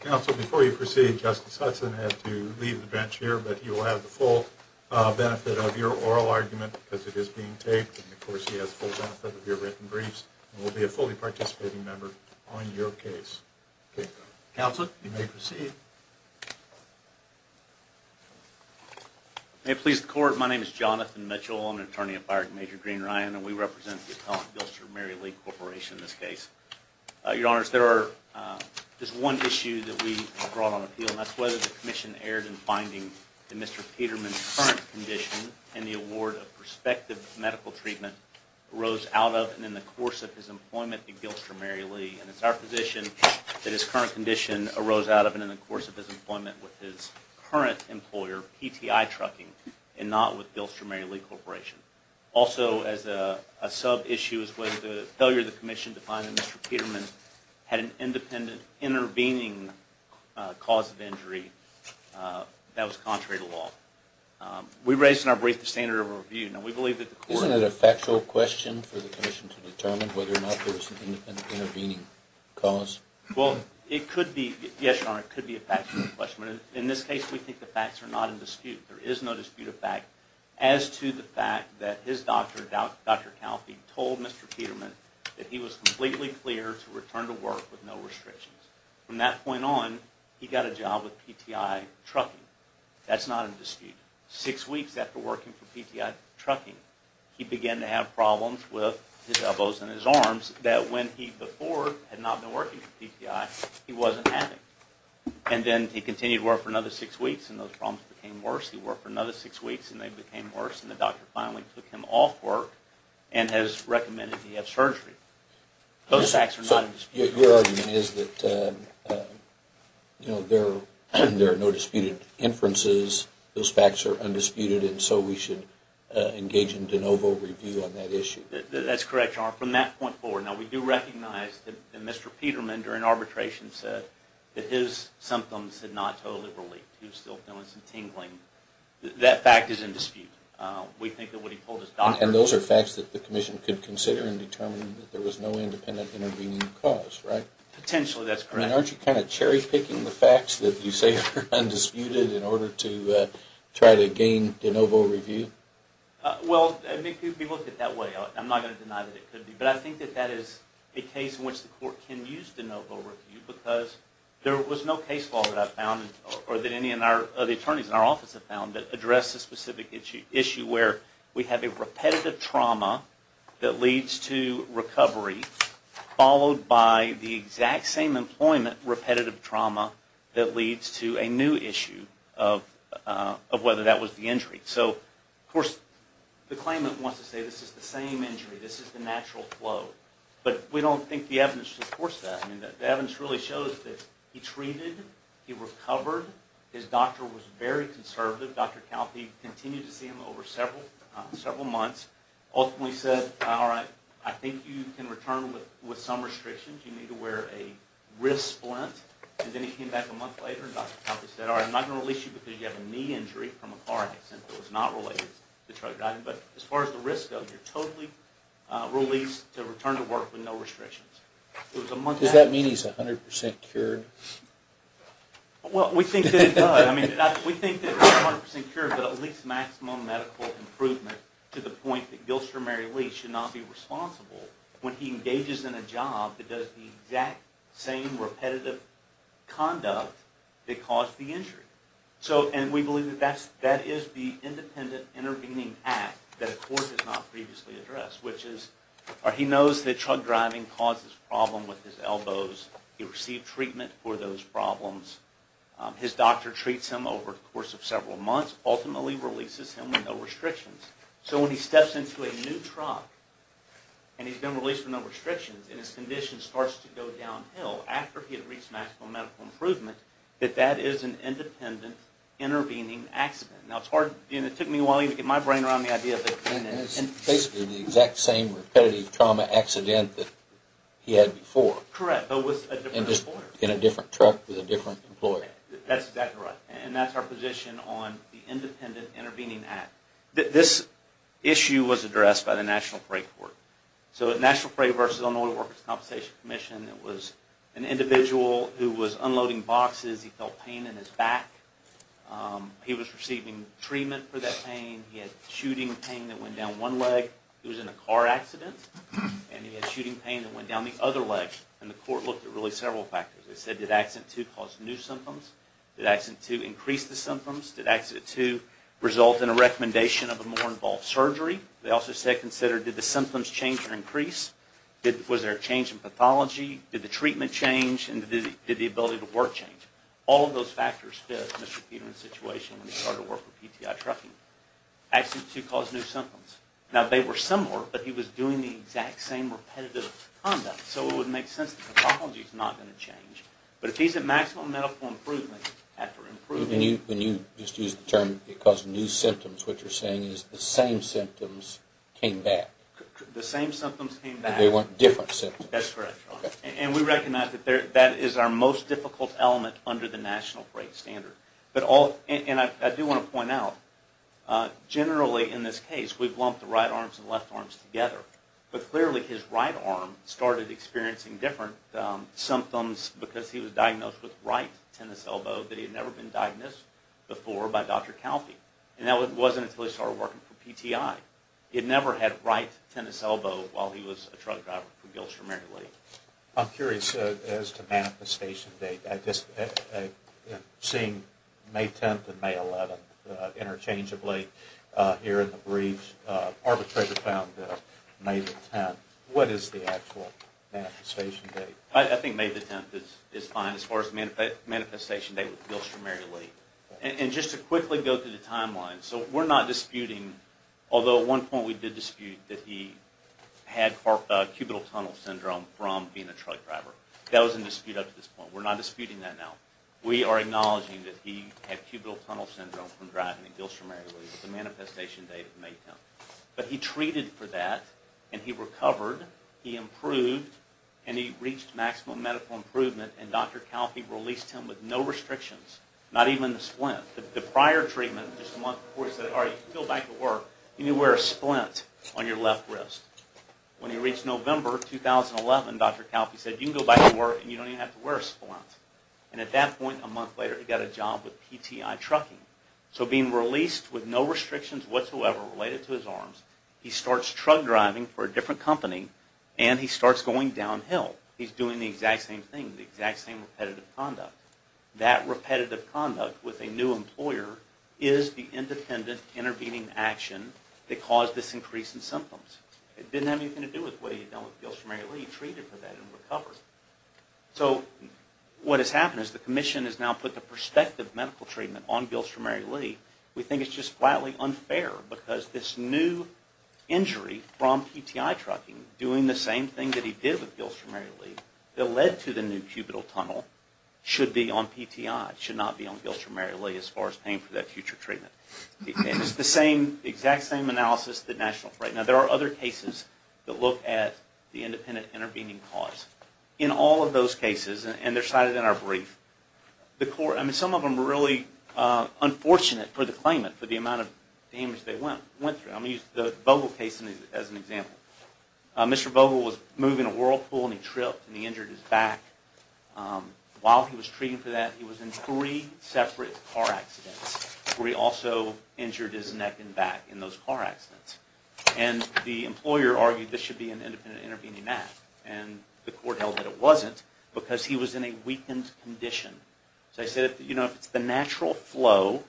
Council, before you proceed, Justice Hudson had to leave the bench here, but he will have the full benefit of your oral argument, because it is being taped, and of course he has the full benefit of your written briefs, and will be a fully participating member on your case. Counselor, you may proceed. May it please the Court, my name is Jonathan Mitchell, I'm an attorney at Byron Major Green Ryan, and we represent the appellant, Gilster-Mary Lee Corporation, in this case. Your Honors, there is one issue that we brought on appeal, and that's whether the Commission erred in finding that Mr. Peterman's current condition, and the award of prospective medical treatment, arose out of it in the course of his employment at Gilster-Mary Lee, and it's our position that his current condition arose out of it in the course of his employment with his current employer, PTI Trucking, and not with Gilster-Mary Lee Corporation. Also, as a sub-issue, is whether the failure of the Commission to find that Mr. Peterman had an independent intervening cause of injury that was contrary to what the Commission determined, whether or not there was an independent intervening cause? Well, it could be, yes, Your Honor, it could be a factual question. In this case, we think the facts are not in dispute. There is no dispute of fact as to the fact that his doctor, Dr. Calfee, told Mr. Peterman that he was completely clear to return to work with no restrictions. From that point on, he got a job with PTI Trucking. That's not in dispute. Six weeks after working for PTI Trucking, he began to have problems with his elbows and his arms that when he before had not been working for PTI, he wasn't having. And then he continued to work for another six weeks, and those problems became worse. He worked for another six weeks, and they became worse, and the doctor finally took him off work and has recommended he have surgery. Those facts are not in dispute. So your argument is that there are no disputed inferences, those facts are undisputed, and so we should engage in de novo review on that issue. That's correct, Your Honor. From that point forward, now, we do recognize that Mr. Peterman, during arbitration, said that his symptoms had not totally relieved. He was still feeling some tingling. That fact is in dispute. We think that what he told his doctor... And those are facts that the Commission could consider in determining that there was no independent intervening cause, right? Potentially, that's correct. I mean, aren't you kind of cherry-picking the facts that you say are undisputed in order to try to gain de novo review? Well, if you look at it that way, I'm not going to deny that it could be, but I think that that is a case in which the court can use de novo review because there was no case law that I've found, or that any of the attorneys in our office have found, that addressed a specific issue where we have a repetitive trauma that leads to recovery, followed by the exact same employment repetitive trauma that leads to a new issue of whether that was the injury. So, of course, the claimant wants to say this is the same injury, this is the natural flow, but we don't think the evidence supports that. I mean, the evidence really shows that he treated, he recovered, his doctor was very conservative. Dr. Calfee continued to see him over several months, ultimately said, alright, I think you can return with some restrictions. You need to wear a wrist splint, and then he came back a month later and Dr. Calfee said, alright, I'm not going to release you because you have a knee injury from a car accident that was not related to drug driving, but as far as the risks go, you're totally released to return to work with no restrictions. Does that mean he's 100% cured? Well, we think that he's 100% cured, but at least maximum medical improvement to the point that Gilstrom-Mary Lee should not be responsible when he engages in a job that does the exact same repetitive conduct that caused the injury. And we believe that is the independent intervening act that a court has not previously addressed, which is he knows that drug driving causes problems with his elbows, he received treatment for those problems, his doctor treats him over the course of several months, ultimately releases him with no restrictions. So when he steps into a new truck, and he's been released with no restrictions, and his condition starts to go downhill after he had reached maximum medical improvement, that that is an independent intervening accident. Now it took me a while to get my brain around the idea that... Basically the exact same repetitive trauma accident that he had before. Correct, but with a different employer. In a different truck with a different employer. That's exactly right. And that's our position on the independent intervening act. This issue was addressed by the National Parade Court. So National Parade versus Illinois Workers' Compensation Commission, it was an individual who was unloading boxes, he felt pain in his back, he was receiving treatment for that pain, he had shooting pain that went down one leg, he was in a car accident, and he had shooting pain that went down the other leg. And the court looked at really did accident two cause new symptoms? Did accident two increase the symptoms? Did accident two result in a recommendation of a more involved surgery? They also said consider, did the symptoms change or increase? Was there a change in pathology? Did the treatment change? And did the ability to work change? All of those factors fit Mr. Peterman's situation when he started working with PTI trucking. Accident two caused new symptoms. Now they were similar, but he was doing the exact same repetitive conduct. So it would make sense that the pathology is not going to change. But if he's at maximum medical improvement after improving... When you just use the term it caused new symptoms, what you're saying is the same symptoms came back. The same symptoms came back. And they weren't different symptoms. That's correct. And we recognize that that is our most difficult element under the National Parade standard. But all, and I do want to point out, generally in this case we've lumped the right arms and left arms together. But clearly his right arm started experiencing different symptoms because he was diagnosed with right tennis elbow that he had never been diagnosed before by Dr. Calfee. And that wasn't until he started working for PTI. He had never had right tennis elbow while he was a truck driver for Gilcher, Maryland. I'm curious as to manifestation date. I've seen May 10th and May 11th interchangeably here in the briefs. Arbitrator found May 10th. What is the actual manifestation date? I think May 10th is fine as far as the manifestation date with Gilcher, Maryland. And just to quickly go through the timeline. So we're not disputing, although at one point we did dispute that he had cubital tunnel syndrome from being a truck driver. That was in dispute up to this point. We're not disputing that now. We are acknowledging that he had cubital tunnel syndrome from driving at Gilcher, Maryland. The manifestation date is May 10th. But he treated for that, and he recovered, he improved, and he reached maximum medical improvement. And Dr. Calfee released him with no restrictions, not even the splint. The prior treatment, just a month before he said, all right, you can go back to work, you can wear a splint on your left wrist. When he reached November 2011, Dr. Calfee said, you can go back to work and you don't even have to wear a splint. And at that point, a month later, he got a job with PTI Trucking. So being released with no restrictions whatsoever related to his arms, he starts truck driving for a different company, and he starts going downhill. He's doing the exact same thing, the exact same repetitive conduct. That repetitive conduct with a new employer is the independent intervening action that caused this increase in symptoms. It didn't have anything to do with what he had done with Gilcher, Maryland. He treated for that and recovered. So what has happened is the Commission has now put the perspective medical treatment on Gilcher, Maryland. We think it's just flatly unfair because this new injury from PTI Trucking, doing the same thing that he did with Gilcher, Maryland, that led to the new cubital tunnel, should be on PTI. It should not be on Gilcher, Maryland as far as paying for that future treatment. It's the same, exact same analysis that National Freight. Now there are other cases that look at the independent intervening cause. In all of those cases, and they're cited in our brief, some of them are really unfortunate for the claimant, for the amount of damage they went through. I'm going to use the Vogel case as an example. Mr. Vogel was moving a whirlpool and he tripped and he injured his back. While he was treating for that, he was in three separate car accidents where he also injured his neck and back in those car accidents. And the employer argued this should be an independent intervening act. And the court held that it wasn't because he was in a weakened condition. So they said if it's the natural flow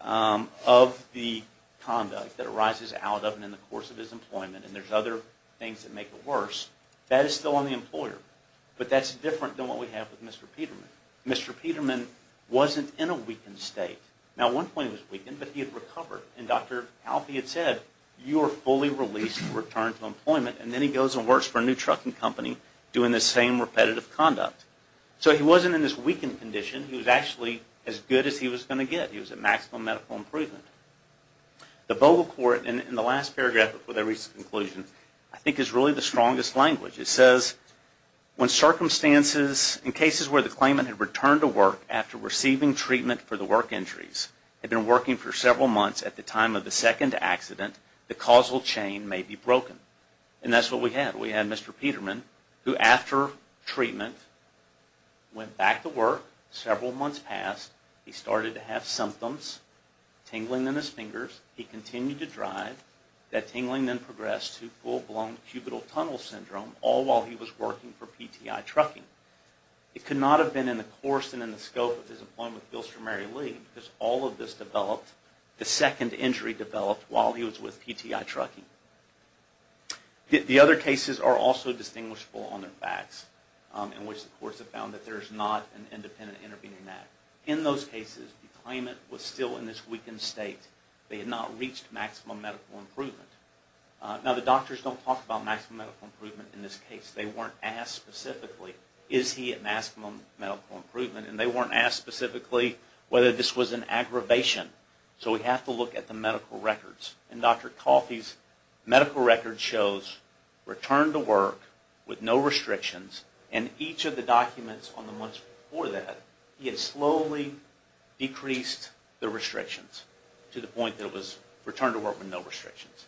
of the conduct that arises out of and in the course of his employment, and there's other things that make it worse, that is still on the employer. But that's different than what we have with Mr. Peterman. Mr. Peterman wasn't in a weakened state. Now at one point he was weakened, but he had recovered. And Dr. Halpy had said, you are fully released and returned to employment. And then he goes and works for a new trucking company doing the same repetitive conduct. So he wasn't in this weakened condition. He was actually as good as he was going to get. He was at maximum medical improvement. The Vogel court, in the last paragraph before they reached a conclusion, I think is really the strongest language. It says, when circumstances in cases where the claimant had returned to work after receiving treatment for the work injuries, had been working for several months at the time of the second accident, the causal chain may be broken. And that's what we had. We had Mr. Peterman who, after treatment, went back to work. Several months passed. He started to have symptoms, tingling in his fingers. He continued to drive. That tingling then progressed to full-blown cubital tunnel syndrome, all while he was working for PTI Trucking. It could not have been in the course and in the scope of his employment appeals for Mary Lee, because all of this developed, the second injury developed, while he was with PTI Trucking. The other cases are also distinguishable on their facts, in which the courts have found that there is not an independent intervening act. In those cases, the claimant was still in this weakened state. They had not reached maximum medical improvement. Now, the doctors don't talk about maximum medical improvement in this case. They weren't asked specifically, is he at maximum medical improvement? And they weren't asked specifically whether this was an aggravation. So we have to look at the medical records. And Dr. Coffey's medical record shows return to work with no restrictions. And each of the documents on the months before that, he had slowly decreased the restrictions to the point that it was return to work with no restrictions.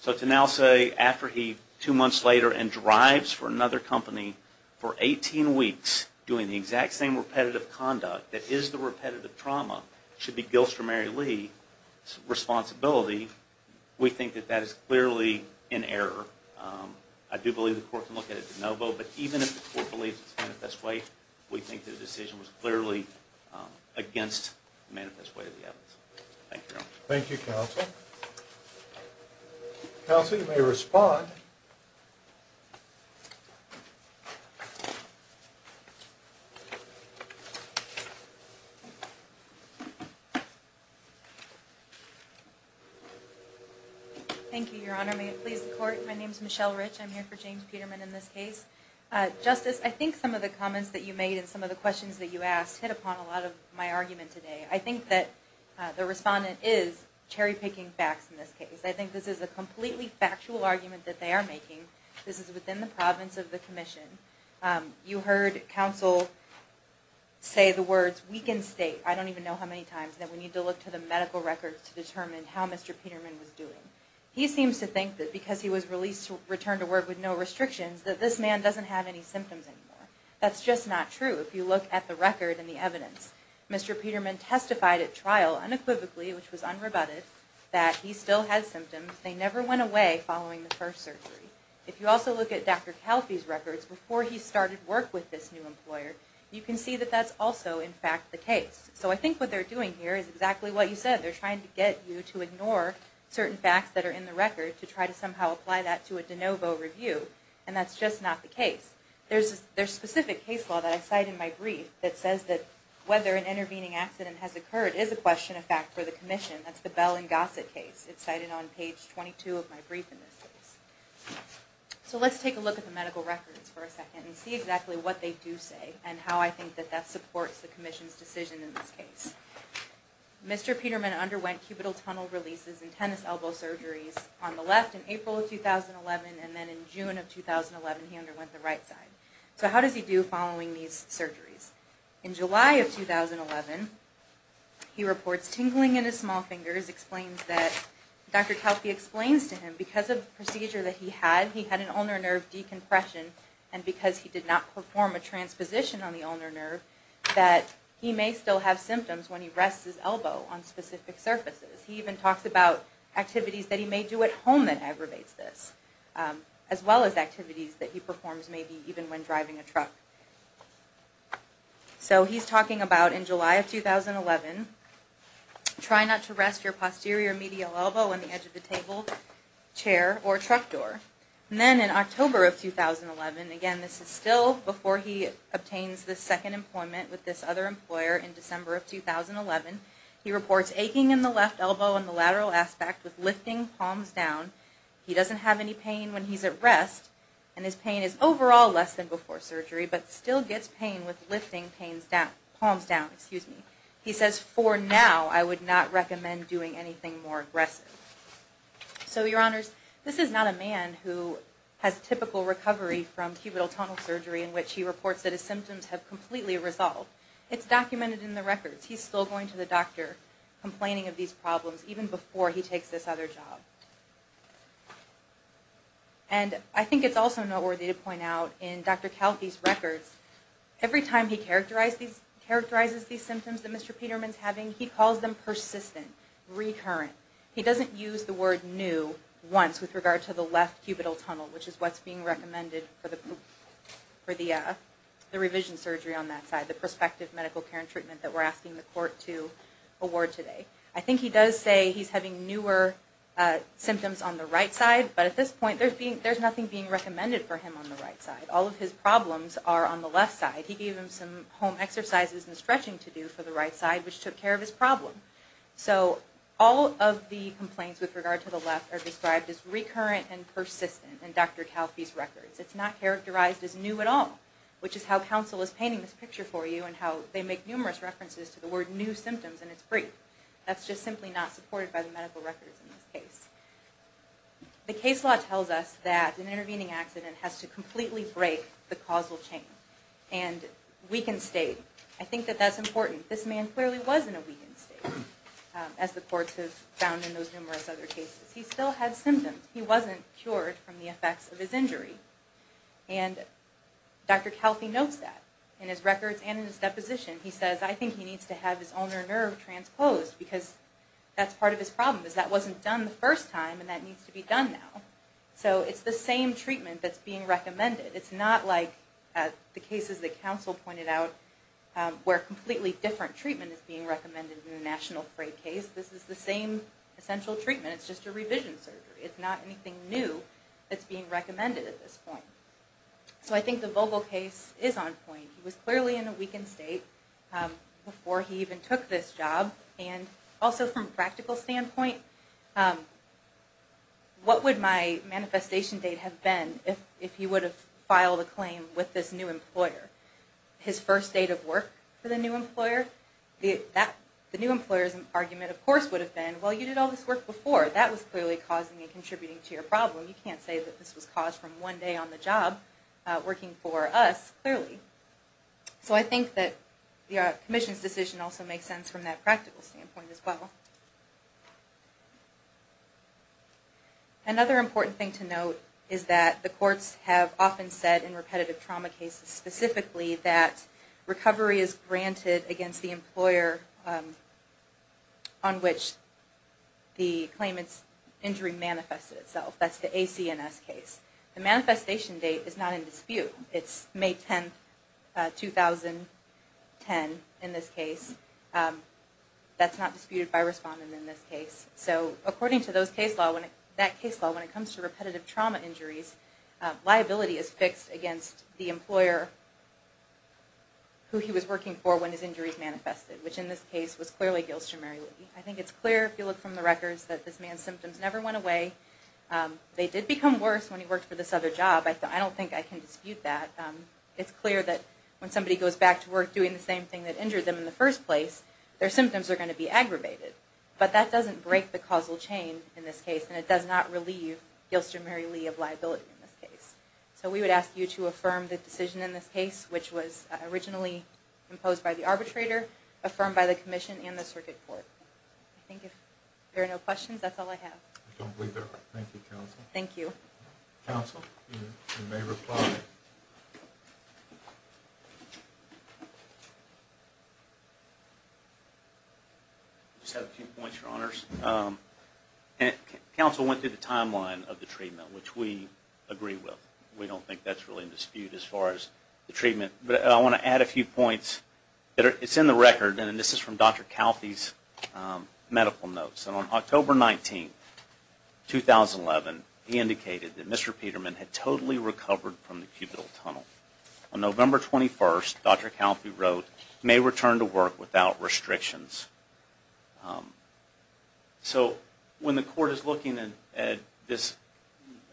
So to now say, after he, two months later, and drives for another company for 18 weeks, doing the exact same repetitive conduct that is the repetitive trauma, should be Gilstrom-Mary Lee's responsibility, we think that that is clearly in error. I do believe the court can look at it de novo. But even if the court believes it's manifest way, we think the decision was clearly against the manifest way of the evidence. Thank you, Your Honor. Thank you, Counsel. Counsel, you may respond. Thank you, Your Honor. May it please the court, my name is Michelle Rich. I'm here for James Peterman in this case. Justice, I think some of the comments that you made and some of the questions that you asked hit upon a lot of my argument today. I think that the respondent is cherry-picking facts in this case. I think this is a completely factual argument that they are making. This is within the province of the commission. You heard counsel say the words, we can state. I don't even know how many times I've heard that. I don't know how many times that we need to look to the medical records to determine how Mr. Peterman was doing. He seems to think that because he was released, returned to work with no restrictions, that this man doesn't have any symptoms anymore. That's just not true if you look at the record and the evidence. Mr. Peterman testified at trial unequivocally, which was unrebutted, that he still had symptoms. They never went away following the first surgery. If you also look at Dr. Kalfi's records before he started work with this new employer, you can see that that's also, in fact, the case. So I think what they're doing here is exactly what you said. They're trying to get you to ignore certain facts that are in the record to try to somehow apply that to a de novo review, and that's just not the case. There's specific case law that I cite in my brief that says that whether an intervening accident has occurred is a question of fact for the commission. That's the Bell and Gossett case. It's cited on page 22 of my brief in this case. So let's take a look at the medical records for a second and see exactly what they do say and how I think that that supports the commission's decision in this case. Mr. Peterman underwent cubital tunnel releases and tennis elbow surgeries on the left in April of 2011, and then in June of 2011 he underwent the right side. So how does he do following these surgeries? In July of 2011, he reports tingling in his small fingers, explains that Dr. Kalfi explains to him because of the procedure that he had, he had an ulnar nerve decompression, and because he did not perform a transposition on the ulnar nerve, that he may still have symptoms when he rests his elbow on specific surfaces. He even talks about activities that he may do at home that aggravates this, as well as activities that he performs maybe even when driving a truck. So he's talking about in July of 2011, try not to rest your posterior medial elbow on the edge of the table, chair, or truck door. Then in October of 2011, again this is still before he obtains the second employment with this other employer in December of 2011, he reports aching in the left elbow and the lateral aspect with lifting palms down. He doesn't have any pain when he's at rest, and his pain is overall less than before surgery, but still gets pain with lifting palms down. He says, for now, I would not recommend doing anything more aggressive. So your honors, this is not a man who has typical recovery from cubital tunnel surgery in which he reports that his symptoms have completely resolved. It's documented in the records. He's still going to the doctor complaining of these problems even before he takes this other job. And I think it's also noteworthy to point out in Dr. Kalfi's records, every time he characterizes these symptoms that Mr. Peterman's having, he calls them persistent, recurrent. He doesn't use the word new once with regard to the left cubital tunnel, which is what's being recommended for the revision surgery on that side, the prospective medical care and treatment that we're asking the court to award today. I think he does say he's having newer symptoms on the right side, but at this point there's nothing being recommended for him on the right side. All of his problems are on the left side. He gave him some home exercises and stretching to do for the right side, which took care of his problem. So all of the complaints with regard to the left are described as recurrent and persistent in Dr. Kalfi's records. It's not characterized as new at all, which is how counsel is painting this picture for you and how they make numerous references to the word new symptoms in its brief. That's just simply not supported by the medical records in this case. The case law tells us that an intervening accident has to completely break the causal chain and weakened state. I think that that's important. This man clearly was in a weakened state, as the courts have found in those numerous other cases. He still had symptoms. He wasn't cured from the effects of his injury. And Dr. Kalfi notes that in his records and in his deposition. He says, I think he needs to have his ulnar nerve transposed because that's part of his problem. That wasn't done the first time and that needs to be done now. So it's the same treatment that's being recommended. It's not like the cases that counsel pointed out where completely different treatment is being recommended in a national freight case. This is the same essential treatment. It's just a revision surgery. It's not anything new that's being recommended at this point. So I think the Vogel case is on point. He was clearly in a weakened state before he even took this job. And also from a practical standpoint, what would my manifestation date have been if he would have filed a claim with this new employer? His first date of work for the new employer? The new employer's argument, of course, would have been, well, you did all this work before. That was clearly causing and contributing to your problem. You can't say that this was caused from one day on the job working for us, clearly. So I think that the Commission's decision also makes sense from that practical standpoint as well. Another important thing to note is that the courts have often said in repetitive trauma cases specifically that recovery is granted against the employer on which the claimant's injury manifested itself. That's the ACNS case. The manifestation date is not in dispute. It's May 10, 2010 in this case. That's not disputed by respondent in this case. So according to that case law, when it comes to repetitive trauma injuries, liability is fixed against the employer who he was working for when his injuries manifested, which in this case was clearly Gilstrom-Marywood. I think it's clear if you look from the records that this man's symptoms never went away. They did become worse when he worked for this other job. I don't think I can dispute that. It's clear that when somebody goes back to work doing the same thing that injured them in the first place, their symptoms are going to be aggravated. But that doesn't break the causal chain in this case, and it does not relieve Gilstrom-Mary Lee of liability in this case. So we would ask you to affirm the decision in this case, which was originally imposed by the arbitrator, affirmed by the Commission and the Circuit Court. I think if there are no questions, that's all I have. I don't believe there are. Thank you, Counsel. Thank you. Counsel, you may reply. I just have a few points, Your Honors. Counsel went through the timeline of the treatment, which we agree with. We don't think that's really in dispute as far as the treatment. But I want to add a few points. It's in the record, and this is from Dr. Calfee's medical notes. On October 19, 2011, he indicated that Mr. Peterman had totally recovered from the cubital tunnel. On November 21, Dr. Calfee wrote, he may return to work without restrictions. So when the Court is looking at this,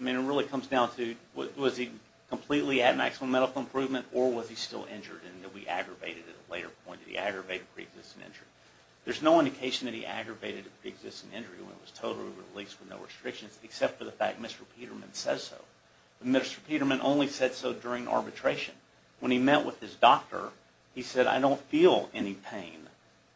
it really comes down to was he completely at maximum medical improvement, or was he still injured and he'll be aggravated at a later point? Did he aggravate a pre-existing injury? There's no indication that he aggravated a pre-existing injury when it was totally released with no restrictions, except for the fact Mr. Peterman says so. Mr. Peterman only said so during arbitration. When he met with his doctor, he said, I don't feel any pain.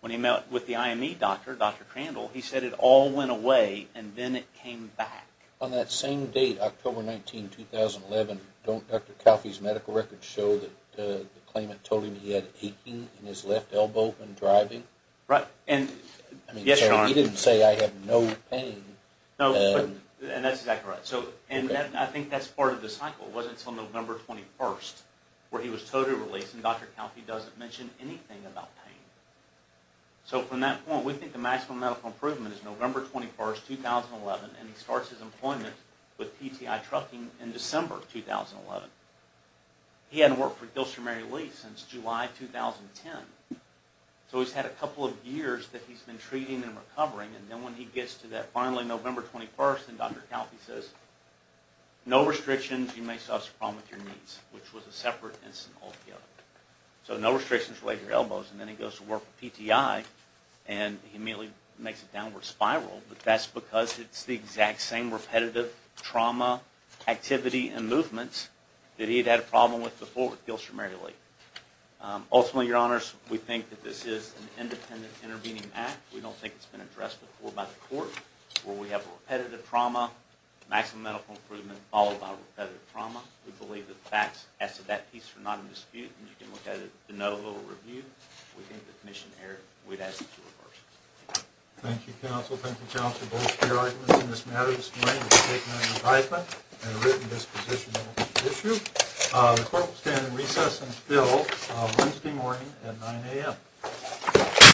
When he met with the IME doctor, Dr. Crandall, he said it all went away and then it came back. On that same date, October 19, 2011, don't Dr. Calfee's medical records show that the claimant told him that he had aching in his left elbow when driving? Yes, Your Honor. So he didn't say, I have no pain. No, and that's exactly right. And I think that's part of the cycle. It wasn't until November 21 where he was totally released and Dr. Calfee doesn't mention anything about pain. So from that point, we think the maximum medical improvement is November 21, 2011, and he starts his employment with PTI Trucking in December 2011. He hadn't worked for Gilster Mary Lee since July 2010. So he's had a couple of years that he's been treating and recovering, and then when he gets to that finally November 21, and Dr. Calfee says, no restrictions. You may still have some problems with your knees, which was a separate incident altogether. So no restrictions related to your elbows, and then he goes to work with PTI, and he immediately makes a downward spiral, but that's because it's the exact same repetitive trauma, activity, and movements that he'd had a problem with before with Gilster Mary Lee. Ultimately, your honors, we think that this is an independent intervening act. We don't think it's been addressed before by the court, where we have repetitive trauma, maximum medical improvement, followed by repetitive trauma. We believe that the facts as to that piece are not in dispute, and you can look at it at the no vote review. We think the commission would ask it to reverse. Thank you, counsel. Thank you, counsel. Thank you both for your arguments in this matter this morning. It's taken on an argument and a written dispositional issue. The court will stand in recess until Wednesday morning at 9 a.m.